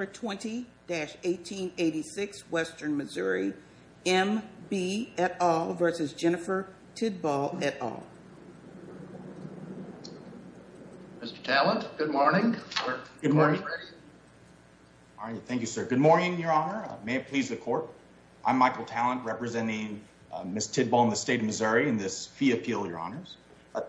20-1886, Western Missouri, M.B. et al. v. Jennifer Tidball et al. Mr. Talent, good morning. Good morning. Thank you, sir. Good morning, Your Honor. May it please the Court. I'm Michael Talent, representing Ms. Tidball and the State of Missouri in this fee appeal, Your Honors.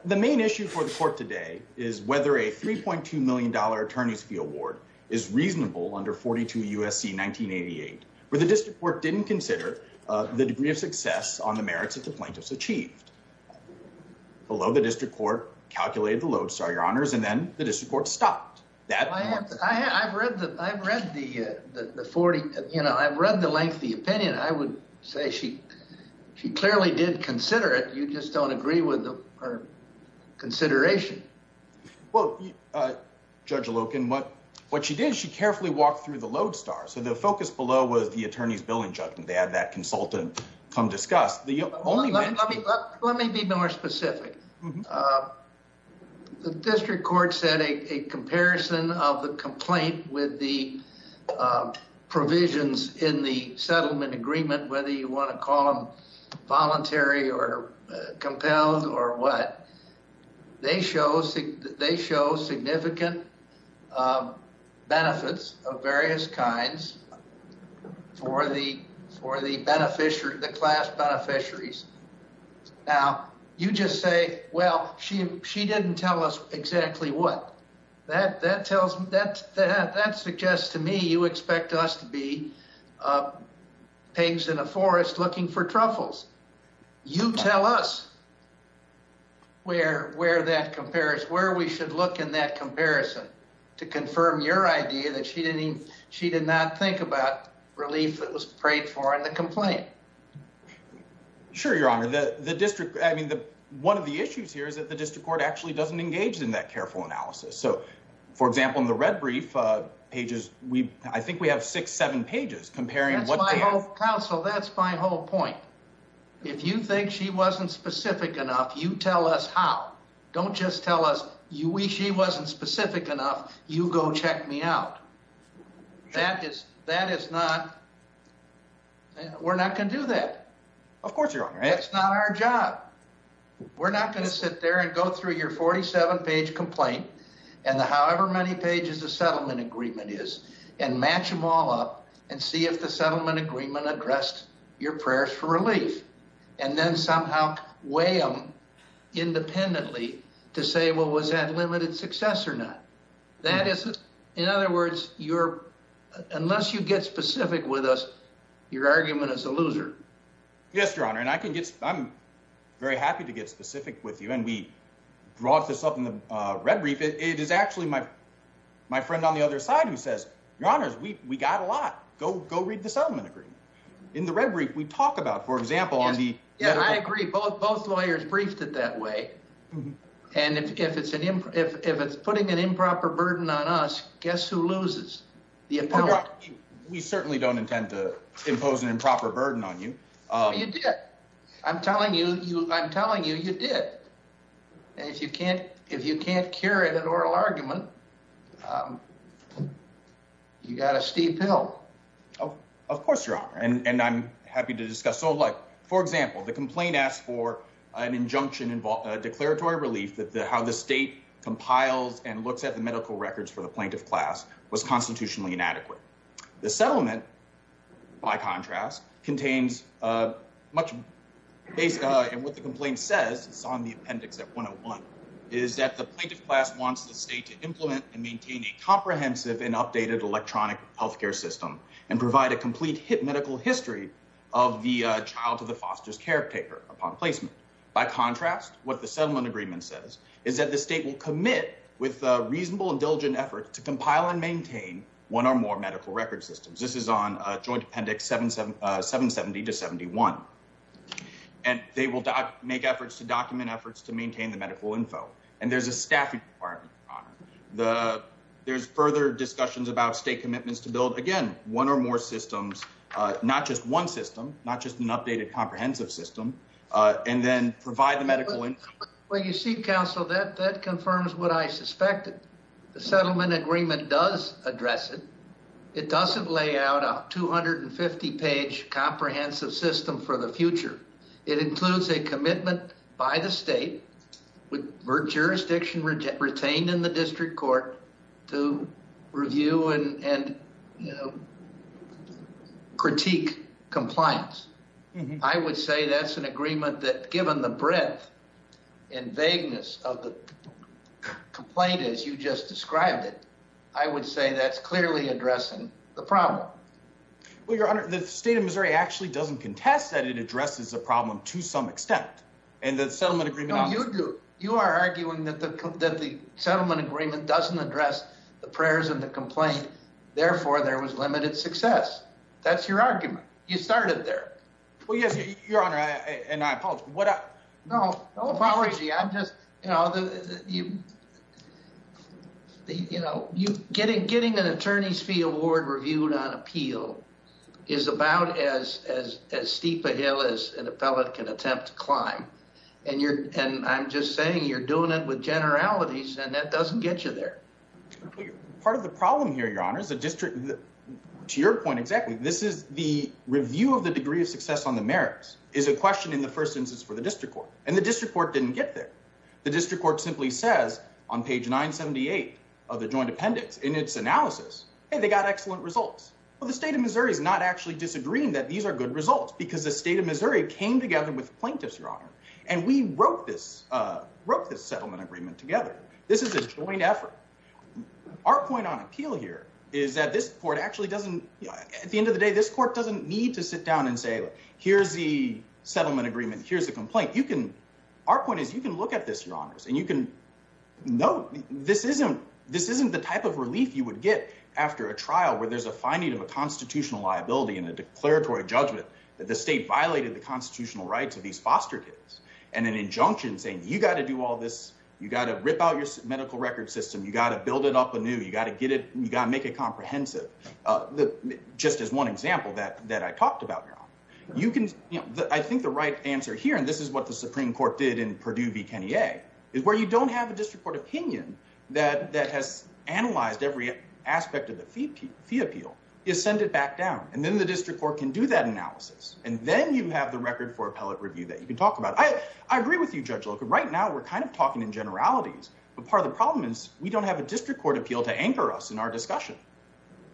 The main issue for the Court today is whether a $3.2 million attorney's fee award is reasonable under 42 U.S.C. 1988, where the District Court didn't consider the degree of success on the merits that the plaintiffs achieved. Below, the District Court calculated the load, sir, Your Honors, and then the District Court stopped. I've read the lengthy opinion. I would say she clearly did consider it. You just don't agree with her consideration. Well, Judge Loken, what she did, she carefully walked through the load, sir. So the focus below was the attorney's billing judgment. They had that consultant come discuss. Let me be more specific. The District Court said a comparison of the complaint with the provisions in the settlement agreement, whether you want to call them voluntary or compelled or what, they show significant benefits of various kinds for the class beneficiaries. Now, you just say, well, she didn't tell us exactly what. That suggests to me you expect us to be pigs in a forest looking for truffles. You tell us where we should look in that comparison to confirm your idea that she did not think about relief that was paid for in the complaint. Sure, Your Honor, the district, I mean, the one of the issues here is that the District Court actually doesn't engage in that careful analysis. So, for example, in the red brief pages, we I think we have six, seven pages comparing counsel. That's my whole point. If you think she wasn't specific enough, you tell us how. Don't just tell us you wish she wasn't specific enough. You go check me out. That is that is not. We're not going to do that. Of course, Your Honor. It's not our job. We're not going to sit there and go through your 47 page complaint and the however many pages the settlement agreement is and match them all up and see if the settlement agreement addressed your prayers for relief. And then somehow weigh them independently to say, well, was that limited success or not? That is, in other words, you're unless you get specific with us, your argument is a loser. Yes, Your Honor. And I can get I'm very happy to get specific with you. And we brought this up in the red brief. It is actually my my friend on the other side who says, Your Honor, we we got a lot. Go go read the settlement agreement in the red brief we talk about, for example, on the. Yeah, I agree. Both both lawyers briefed it that way. And if it's an if if it's putting an improper burden on us, guess who loses the appellate? We certainly don't intend to impose an improper burden on you. You did. I'm telling you, I'm telling you, you did. And if you can't if you can't carry that oral argument, you got a steep hill. Of course, Your Honor. And I'm happy to discuss. So, like, for example, the complaint asks for an injunction, a declaratory relief that how the state compiles and looks at the medical records for the plaintiff class was constitutionally inadequate. The settlement, by contrast, contains much based on what the complaint says. It's on the appendix that one of one is that the plaintiff class wants the state to implement and maintain a comprehensive and updated electronic health care system. And provide a complete medical history of the child to the foster's caretaker upon placement. By contrast, what the settlement agreement says is that the state will commit with reasonable and diligent effort to compile and maintain one or more medical record systems. This is on a joint appendix seven, seven, seven, 70 to 71. And they will make efforts to document efforts to maintain the medical info. And there's a staffing. The there's further discussions about state commitments to build again one or more systems, not just one system, not just an updated comprehensive system. And then provide the medical. Well, you see, counsel, that that confirms what I suspected. The settlement agreement does address it. It doesn't lay out a 250 page comprehensive system for the future. It includes a commitment by the state with jurisdiction retained in the district court to review and critique compliance. I would say that's an agreement that given the breadth and vagueness of the complaint, as you just described it, I would say that's clearly addressing the problem. Well, your honor, the state of Missouri actually doesn't contest that. It addresses the problem to some extent. And the settlement agreement you do, you are arguing that the that the settlement agreement doesn't address the prayers and the complaint. Therefore, there was limited success. That's your argument. You started there. Well, yes, your honor. And I apologize. What? No apology. I'm just you know, you know, you getting getting an attorney's fee award reviewed on appeal is about as as as steep a hill as an appellate can attempt to climb. And you're and I'm just saying you're doing it with generalities and that doesn't get you there. Part of the problem here, your honor, is a district. To your point, exactly. This is the review of the degree of success on the merits is a question in the first instance for the district court. And the district court didn't get there. The district court simply says on page 978 of the joint appendix in its analysis, hey, they got excellent results. Well, the state of Missouri is not actually disagreeing that these are good results because the state of Missouri came together with plaintiffs, your honor. And we wrote this wrote this settlement agreement together. This is a joint effort. Our point on appeal here is that this court actually doesn't at the end of the day, this court doesn't need to sit down and say, look, here's the settlement agreement. Here's a complaint. You can. Our point is, you can look at this, your honors, and you can know this isn't this isn't the type of relief you would get after a trial where there's a finding of a constitutional liability and a declaratory judgment that the state violated the constitutional rights of these foster kids. And an injunction saying you got to do all this. You got to rip out your medical record system. You got to build it up a new. You got to get it. You got to make it comprehensive. Just as one example that that I talked about, you can. I think the right answer here, and this is what the Supreme Court did in Purdue v. I agree with you, Judge. Look, right now we're kind of talking in generalities. But part of the problem is we don't have a district court appeal to anchor us in our discussion.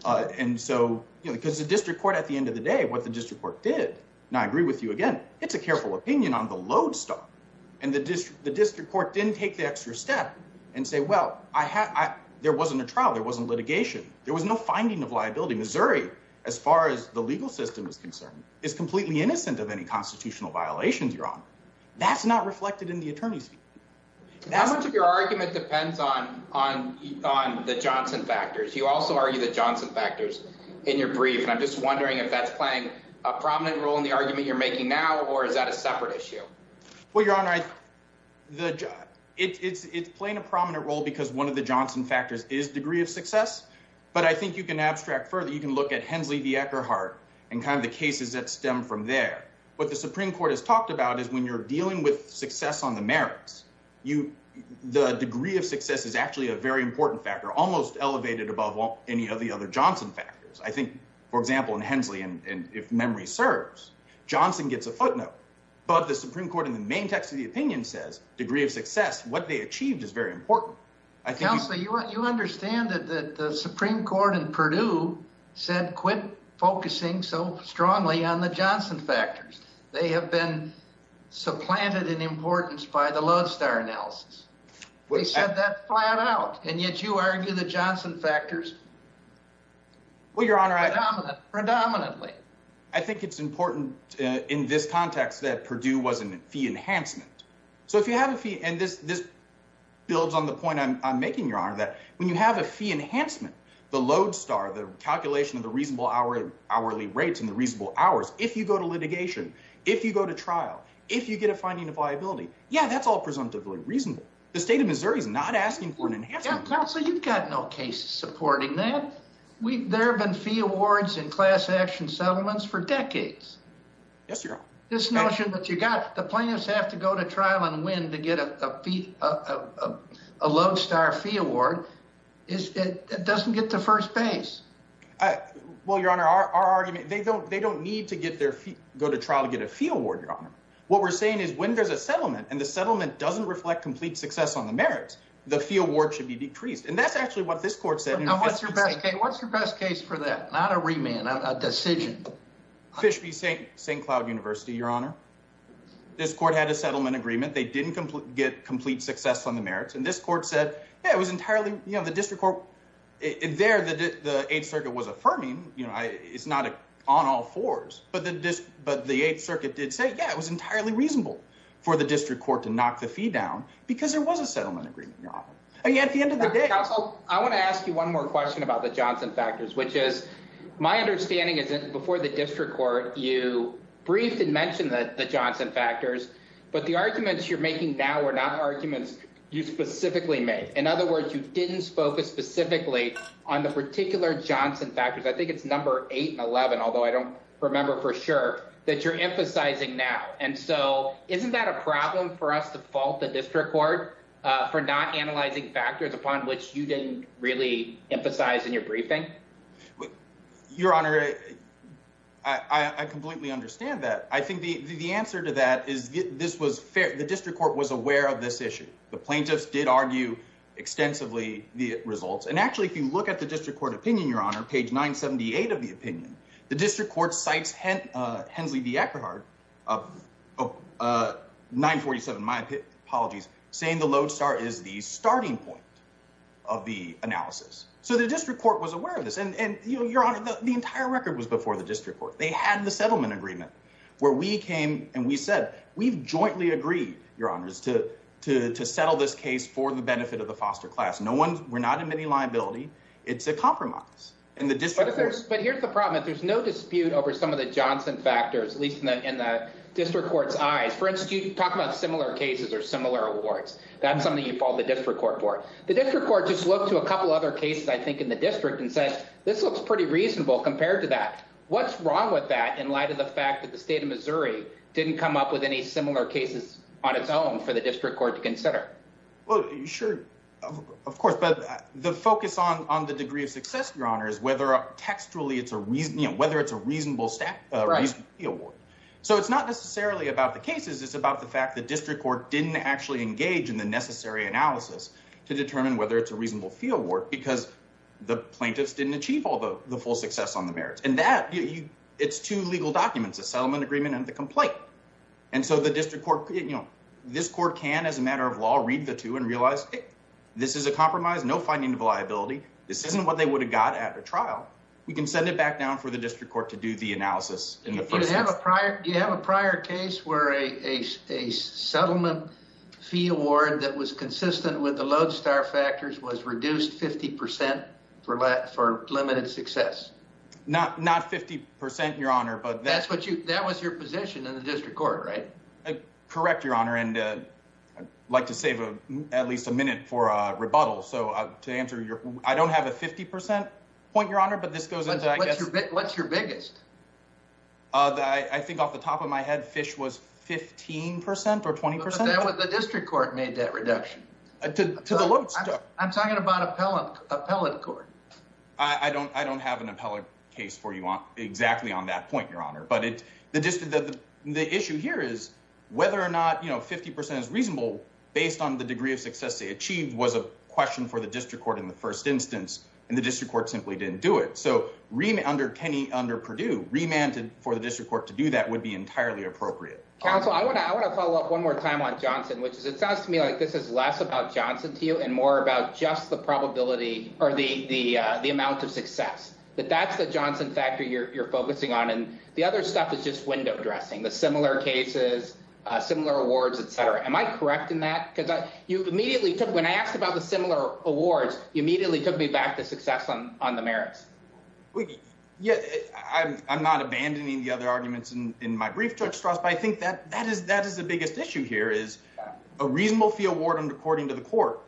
And so, because the district court at the end of the day what the district court did not agree with you again, it's a careful opinion on the load stop and the district, the district court didn't take the extra step and say, well, I had, there wasn't a trial there wasn't litigation. There was no finding of liability. Missouri, as far as the legal system is concerned, is completely innocent of any constitutional violations. You're on. That's not reflected in the attorneys. How much of your argument depends on on on the Johnson factors. You also argue that Johnson factors in your brief. And I'm just wondering if that's playing a prominent role in the argument you're making now, or is that a separate issue? Well, your honor, the job, it's playing a prominent role because one of the Johnson factors is degree of success. But I think you can abstract further you can look at Hensley the Eckhart and kind of the cases that stem from there. What the Supreme Court has talked about is when you're dealing with success on the merits, you, the degree of success is actually a very important factor almost elevated above any of the other Johnson factors I think, for example, in Hensley and if memory serves Johnson gets a footnote, but the Supreme Court in the main text of the opinion says degree of success, what they achieved is very important. You understand that the Supreme Court in Purdue said quit focusing so strongly on the Johnson factors. They have been supplanted in importance by the love star analysis. We said that flat out, and yet you argue the Johnson factors. Well, your honor, predominantly, I think it's important in this context that Purdue wasn't fee enhancement. So if you have a fee and this this builds on the point I'm making your honor that when you have a fee enhancement, the load star the calculation of the reasonable hourly hourly rates and the reasonable hours if you go to litigation, if you go to trial, if you get a finding of liability. Yeah, that's all presumptively reasonable. The state of Missouri is not asking for an enhancement. So you've got no case supporting that we've there have been fee awards and class action settlements for decades. Yes, your this notion that you got the plaintiffs have to go to trial and win to get a fee. What we're saying is when there's a settlement and the settlement doesn't reflect complete success on the merits, the field work should be decreased. And that's actually what this court said. Now, what's your best case? What's your best case for that? Not a remand a decision. Fish be St. St. Cloud University, your honor. This court had a settlement agreement. They didn't get complete success on the merits. And this court said it was entirely the district court there. The 8th Circuit was affirming. It's not on all fours, but the 8th Circuit did say, yeah, it was entirely reasonable for the district court to knock the fee down because there was a settlement agreement. At the end of the day, I want to ask you one more question about the Johnson factors, which is my understanding is that before the district court, you briefed and mentioned that the Johnson factors, but the arguments you're making now are not arguments you specifically make. In other words, you didn't focus specifically on the particular Johnson factors. I think it's number 8 and 11, although I don't remember for sure that you're emphasizing now. And so isn't that a problem for us to fault the district court for not analyzing factors upon which you didn't really emphasize in your briefing? Your honor, I completely understand that. I think the answer to that is this was fair. The district court was aware of this issue. The plaintiffs did argue extensively the results. And actually, if you look at the district court opinion, your honor, page 978 of the opinion, the district court sites, hence the Eckerd of 947. My apologies, saying the lodestar is the starting point of the analysis. So the district court was aware of this. And your honor, the entire record was before the district court. They had the settlement agreement where we came and we said we've jointly agreed, your honors, to to to settle this case for the benefit of the foster class. No one. We're not in many liability. It's a compromise in the district. But here's the problem. If there's no dispute over some of the Johnson factors, at least in the district court's eyes, for instance, you talk about similar cases or similar awards. That's something you follow the district court for the district court. Just look to a couple other cases, I think, in the district and said, this looks pretty reasonable compared to that. What's wrong with that? In light of the fact that the state of Missouri didn't come up with any similar cases on its own for the district court to consider? Sure, of course. But the focus on on the degree of success, your honor, is whether textually it's a reason, whether it's a reasonable stack. So it's not necessarily about the cases. It's about the fact that district court didn't actually engage in the necessary analysis to determine whether it's a reasonable fieldwork because the plaintiffs didn't achieve all the full success on the merits and that it's two legal documents, a settlement agreement and the complaint. And so the district court, you know, this court can, as a matter of law, read the two and realize this is a compromise, no finding of liability. This isn't what they would have got at a trial. We can send it back down for the district court to do the analysis. Do you have a prior case where a settlement fee award that was consistent with the lodestar factors was reduced 50 percent for limited success? Not 50 percent, your honor. That was your position in the district court, right? Correct, your honor. And I'd like to save at least a minute for a rebuttal. So to answer your, I don't have a 50 percent point, your honor, but this goes into, I guess. What's your biggest? I think off the top of my head, fish was 15 percent or 20 percent. The district court made that reduction. To the lodestar. I'm talking about appellate court. I don't I don't have an appellate case for you on exactly on that point, your honor. But the issue here is whether or not, you know, 50 percent is reasonable based on the degree of success they achieved was a question for the district court in the first instance. And the district court simply didn't do it. So under Kenny, under Purdue remanded for the district court to do that would be entirely appropriate. Counsel, I want to I want to follow up one more time on Johnson, which is it sounds to me like this is less about Johnson to you and more about just the probability or the the the amount of success that that's the Johnson factor you're focusing on. And the other stuff is just window dressing the similar cases, similar awards, et cetera. Am I correct in that? Because you immediately took when I asked about the similar awards, you immediately took me back to success on on the merits. Yeah, I'm not abandoning the other arguments in my brief, Judge Strauss, but I think that that is that is the biggest issue here is a reasonable fee award. And according to the court,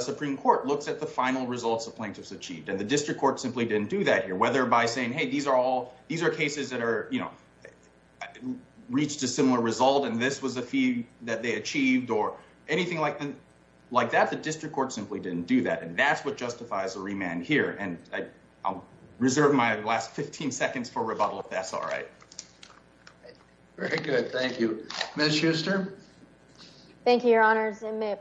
Supreme Court looks at the final results of plaintiffs achieved and the district court simply didn't do that here, whether by saying, hey, these are all these are cases that are, you know, reached a similar result. And this was a fee that they achieved or anything like like that. The district court simply didn't do that. And that's what justifies a remand here. And I'll reserve my last 15 seconds for rebuttal if that's all right. Very good. Thank you, Mr. Thank you, Your Honor.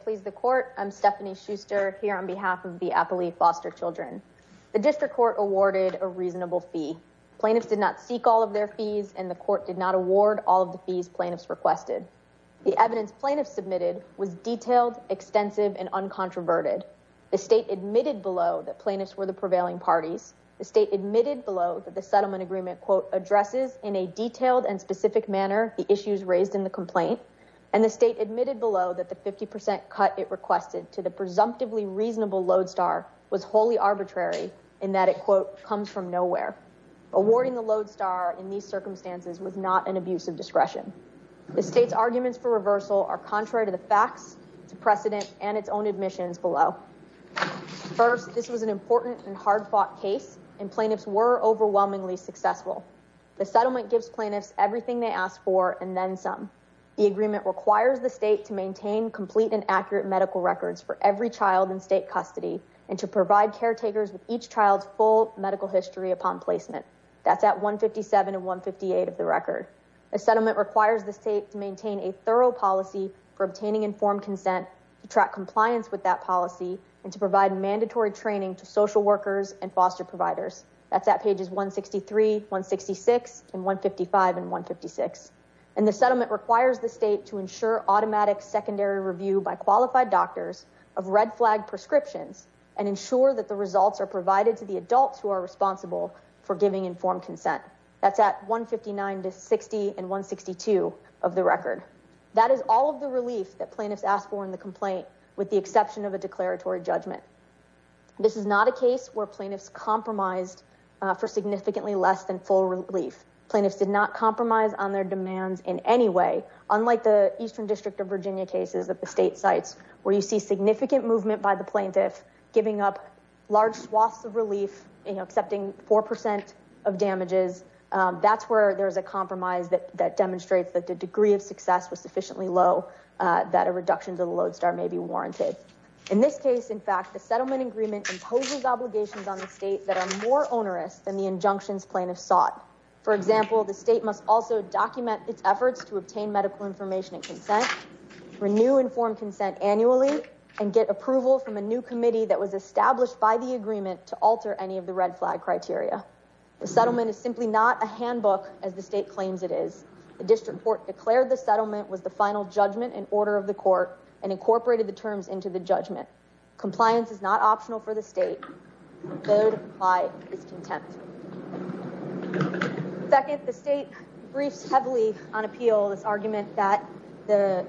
Please, the court. I'm Stephanie Schuster here on behalf of the appellee foster children. The district court awarded a reasonable fee. Plaintiffs did not seek all of their fees and the court did not award all of the fees plaintiffs requested. The evidence plaintiffs submitted was detailed, extensive and uncontroverted. The state admitted below that plaintiffs were the prevailing parties. The state admitted below that the settlement agreement, quote, addresses in a detailed and specific manner the issues raised in the complaint. And the state admitted below that the 50 percent cut it requested to the presumptively reasonable lodestar was wholly arbitrary in that it, quote, comes from nowhere. Awarding the lodestar in these circumstances was not an abuse of discretion. The state's arguments for reversal are contrary to the facts to precedent and its own admissions below. First, this was an important and hard fought case and plaintiffs were overwhelmingly successful. The settlement gives plaintiffs everything they asked for. And then some. The agreement requires the state to maintain complete and accurate medical records for every child in state custody and to provide caretakers with each child's full medical history upon placement. That's at 157 and 158 of the record. A settlement requires the state to maintain a thorough policy for obtaining informed consent to track compliance with that policy and to provide mandatory training to social workers and foster providers. That's at pages 163, 166 and 155 and 156. And the settlement requires the state to ensure automatic secondary review by qualified doctors of red flag prescriptions and ensure that the results are provided to the adults who are responsible for giving informed consent. That's at 159 to 60 and 162 of the record. That is all of the relief that plaintiffs asked for in the complaint, with the exception of a declaratory judgment. This is not a case where plaintiffs compromised for significantly less than full relief plaintiffs did not compromise on their demands in any way. Unlike the Eastern District of Virginia cases that the state sites where you see significant movement by the plaintiff giving up large swaths of relief, accepting 4% of damages. That's where there's a compromise that demonstrates that the degree of success was sufficiently low that a reduction to the lodestar may be warranted. In this case, in fact, the settlement agreement imposes obligations on the state that are more onerous than the injunctions plaintiffs sought. For example, the state must also document its efforts to obtain medical information and consent, renew informed consent annually and get approval from a new committee that was established by the agreement to alter any of the red flag criteria. The settlement is simply not a handbook as the state claims it is. The district court declared the settlement was the final judgment in order of the court and incorporated the terms into the judgment. Compliance is not optional for the state. Contempt. Second, the state briefs heavily on appeal this argument that the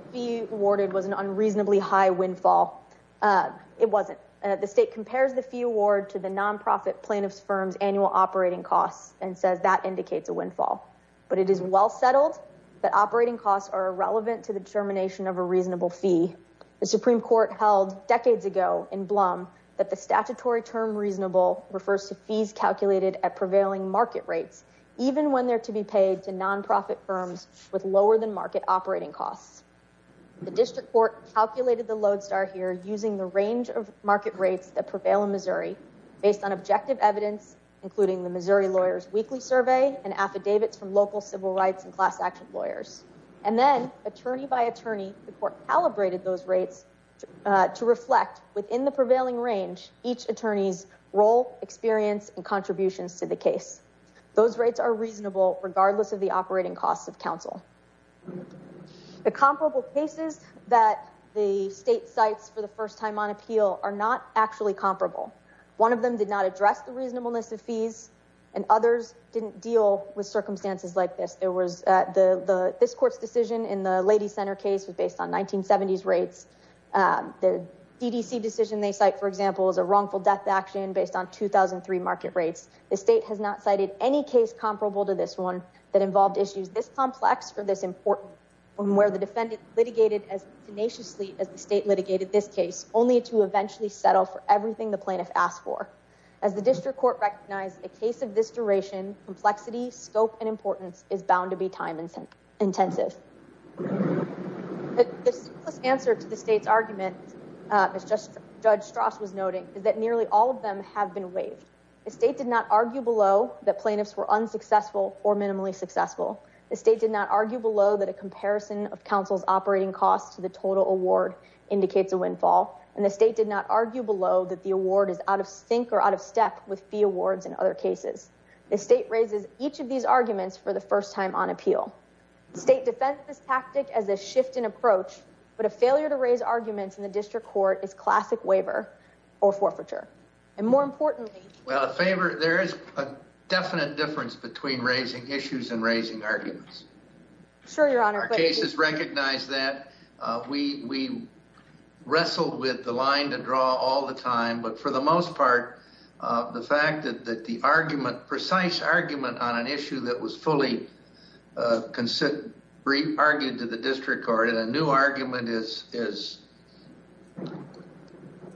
awarded was an unreasonably high windfall. It wasn't the state compares the fee award to the nonprofit plaintiffs firms annual operating costs and says that indicates a windfall. But it is well settled that operating costs are irrelevant to the determination of a reasonable fee. The Supreme Court held decades ago in Blum that the statutory term reasonable refers to fees calculated at prevailing market rates, even when they're to be paid to nonprofit firms with lower than market operating costs. The district court calculated the lodestar here using the range of market rates that prevail in Missouri, based on objective evidence, including the Missouri lawyers weekly survey and affidavits from local civil rights and class action lawyers. And then, attorney by attorney, the court calibrated those rates to reflect within the prevailing range each attorneys role experience and contributions to the case. Those rates are reasonable, regardless of the operating costs of counsel. The comparable cases that the state sites for the first time on appeal are not actually comparable. One of them did not address the reasonableness of fees and others didn't deal with circumstances like this. There was the this court's decision in the lady center case was based on 1970s rates. The DDC decision they cite, for example, is a wrongful death action based on 2003 market rates. The state has not cited any case comparable to this one that involved issues this complex for this important from where the defendant litigated as tenaciously as the state litigated this case, only to eventually settle for everything the plaintiff asked for. As the district court recognized a case of this duration, complexity, scope and importance is bound to be time intensive. The answer to the state's argument is just judge Strauss was noting that nearly all of them have been waived. The state did not argue below that plaintiffs were unsuccessful or minimally successful. The state did not argue below that a comparison of counsel's operating costs to the total award indicates a windfall. And the state did not argue below that the award is out of sync or out of step with fee awards. In other cases, the state raises each of these arguments for the first time on appeal. The state defends this tactic as a shift in approach. But a failure to raise arguments in the district court is classic waiver or forfeiture. And more importantly, a favor. There is a definite difference between raising issues and raising arguments. Our cases recognize that. We wrestled with the line to draw all the time. But for the most part, the fact that the argument, precise argument on an issue that was fully argued to the district court and a new argument is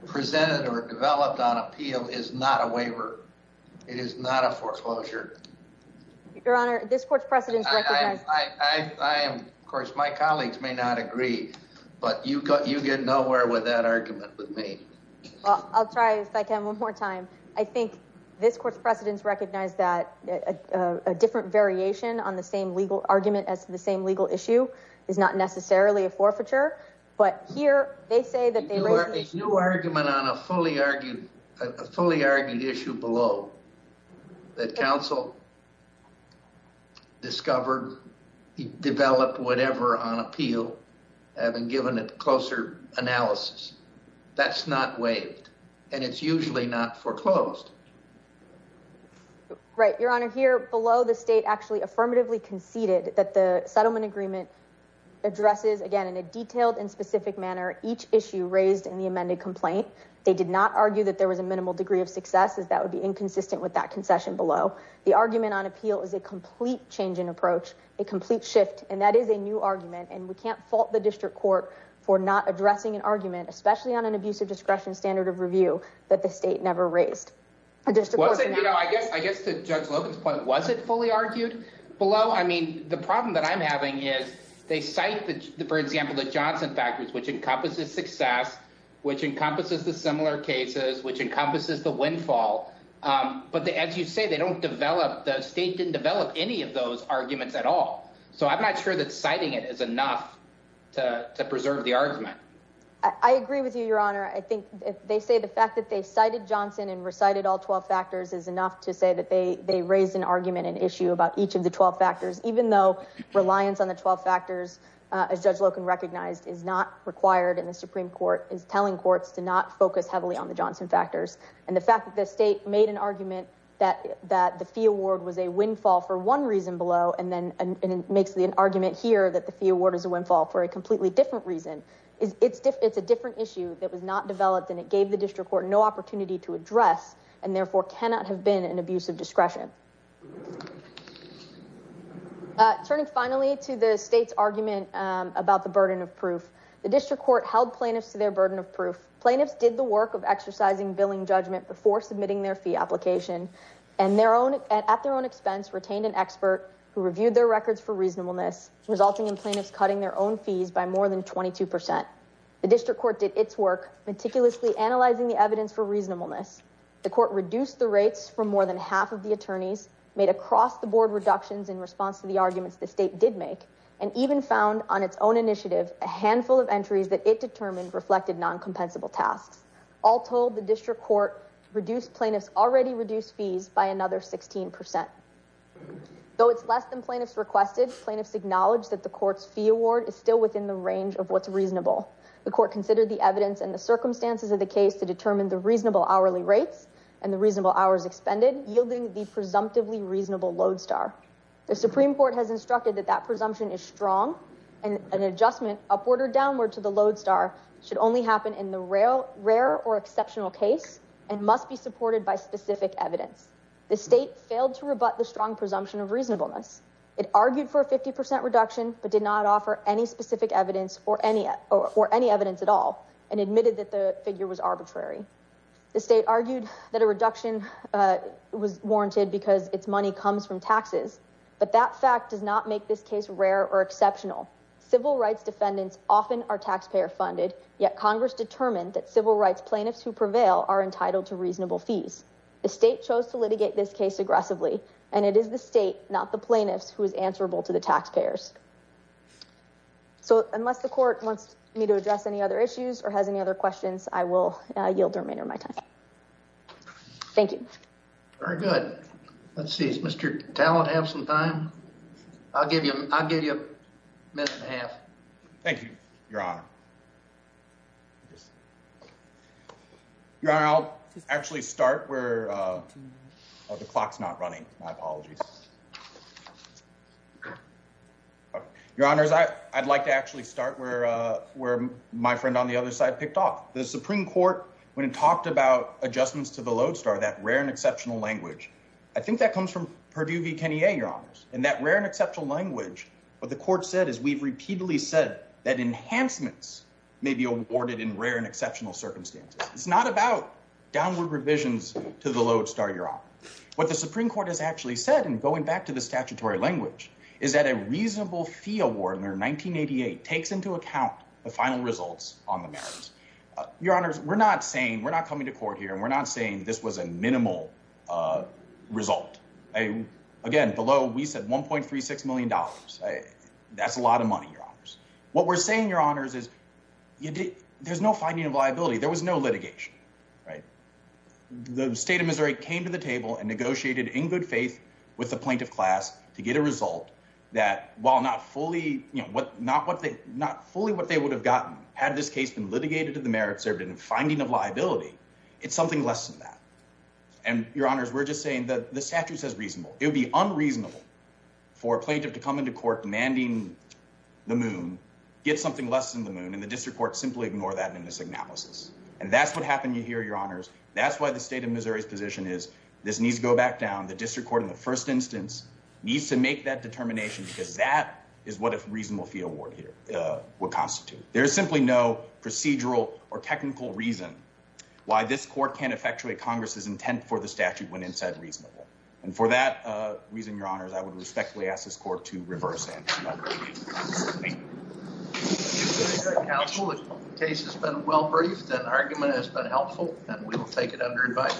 presented or developed on appeal is not a waiver. It is not a foreclosure. Your Honor, this court's precedents recognize. Of course, my colleagues may not agree, but you get nowhere with that argument with me. I'll try if I can one more time. I think this court's precedents recognize that a different variation on the same legal argument as the same legal issue is not necessarily a forfeiture. But here they say that they were a new argument on a fully argued, a fully argued issue below that council. Discover, develop whatever on appeal. I haven't given a closer analysis. That's not waived. And it's usually not foreclosed. Right. Your Honor, here below the state actually affirmatively conceded that the settlement agreement addresses again in a detailed and specific manner. Each issue raised in the amended complaint. They did not argue that there was a minimal degree of success is that would be inconsistent with that concession below. The argument on appeal is a complete change in approach, a complete shift. And that is a new argument. And we can't fault the district court for not addressing an argument, especially on an abuse of discretion standard of review that the state never raised a district. Well, I guess I guess to judge Logan's point, was it fully argued below? I mean, the problem that I'm having is they cite, for example, the Johnson factors, which encompasses success, which encompasses the similar cases, which encompasses the windfall. But as you say, they don't develop. The state didn't develop any of those arguments at all. So I'm not sure that citing it is enough to preserve the argument. I agree with you, Your Honor. I think they say the fact that they cited Johnson and recited all 12 factors is enough to say that they they raised an argument, an issue about each of the 12 factors, even though reliance on the 12 factors. Judge Logan recognized is not required in the Supreme Court is telling courts to not focus heavily on the Johnson factors. And the fact that the state made an argument that that the fee award was a windfall for one reason below. And then it makes the argument here that the fee award is a windfall for a completely different reason. It's it's it's a different issue that was not developed. And it gave the district court no opportunity to address and therefore cannot have been an abuse of discretion. Turning finally to the state's argument about the burden of proof, the district court held plaintiffs to their burden of proof. Plaintiffs did the work of exercising billing judgment before submitting their fee application and their own at their own expense, retained an expert who reviewed their records for reasonableness, resulting in plaintiffs cutting their own fees by more than 22 percent. The district court did its work meticulously analyzing the evidence for reasonableness. The court reduced the rates for more than half of the attorneys made across the board reductions in response to the arguments the state did make and even found on its own initiative a handful of entries that it determined reflected noncompensable tasks. All told, the district court reduced plaintiffs already reduced fees by another 16 percent, though it's less than plaintiffs requested. Plaintiffs acknowledge that the court's fee award is still within the range of what's reasonable. The court considered the evidence and the circumstances of the case to determine the reasonable hourly rates and the reasonable hours expended, yielding the presumptively reasonable lodestar. The Supreme Court has instructed that that presumption is strong and an adjustment upward or downward to the lodestar should only happen in the rare or exceptional case and must be supported by specific evidence. The state failed to rebut the strong presumption of reasonableness. It argued for a 50 percent reduction but did not offer any specific evidence or any or any evidence at all and admitted that the figure was arbitrary. The state argued that a reduction was warranted because its money comes from taxes. But that fact does not make this case rare or exceptional. Civil rights defendants often are taxpayer funded. Yet Congress determined that civil rights plaintiffs who prevail are entitled to reasonable fees. The state chose to litigate this case aggressively and it is the state, not the plaintiffs, who is answerable to the taxpayers. So unless the court wants me to address any other issues or has any other questions, I will yield the remainder of my time. Thank you. Very good. Let's see, Mr. Talent, have some time. I'll give you I'll give you a minute and a half. Thank you, Your Honor. Your Honor, I'll actually start where the clock's not running. My apologies. Your Honor, as I I'd like to actually start where where my friend on the other side picked off the Supreme Court when it talked about adjustments to the Lodestar, that rare and exceptional language. I think that comes from Purdue v. Kenya, Your Honors, and that rare and exceptional language. What the court said is we've repeatedly said that enhancements may be awarded in rare and exceptional circumstances. It's not about downward revisions to the Lodestar, Your Honor. What the Supreme Court has actually said, and going back to the statutory language, is that a reasonable fee award under 1988 takes into account the final results on the merits. Your Honors, we're not saying we're not coming to court here. We're not saying this was a minimal result. Again, below, we said one point three six million dollars. That's a lot of money. What we're saying, Your Honors, is there's no finding of liability. There was no litigation. The state of Missouri came to the table and negotiated in good faith with the plaintiff class to get a result that while not fully not what they not fully what they would have gotten had this case been litigated to the merits or been a finding of liability. It's something less than that. And Your Honors, we're just saying that the statute says reasonable. It would be unreasonable for a plaintiff to come into court demanding the moon, get something less than the moon and the district court simply ignore that in this analysis. And that's what happened here, Your Honors. That's why the state of Missouri's position is this needs to go back down. The district court in the first instance needs to make that determination because that is what a reasonable fee award would constitute. There's simply no procedural or technical reason why this court can't effectuate Congress's intent for the statute when it said reasonable. And for that reason, Your Honors, I would respectfully ask this court to reverse. Case has been well briefed and argument has been helpful and we will take it under advisement.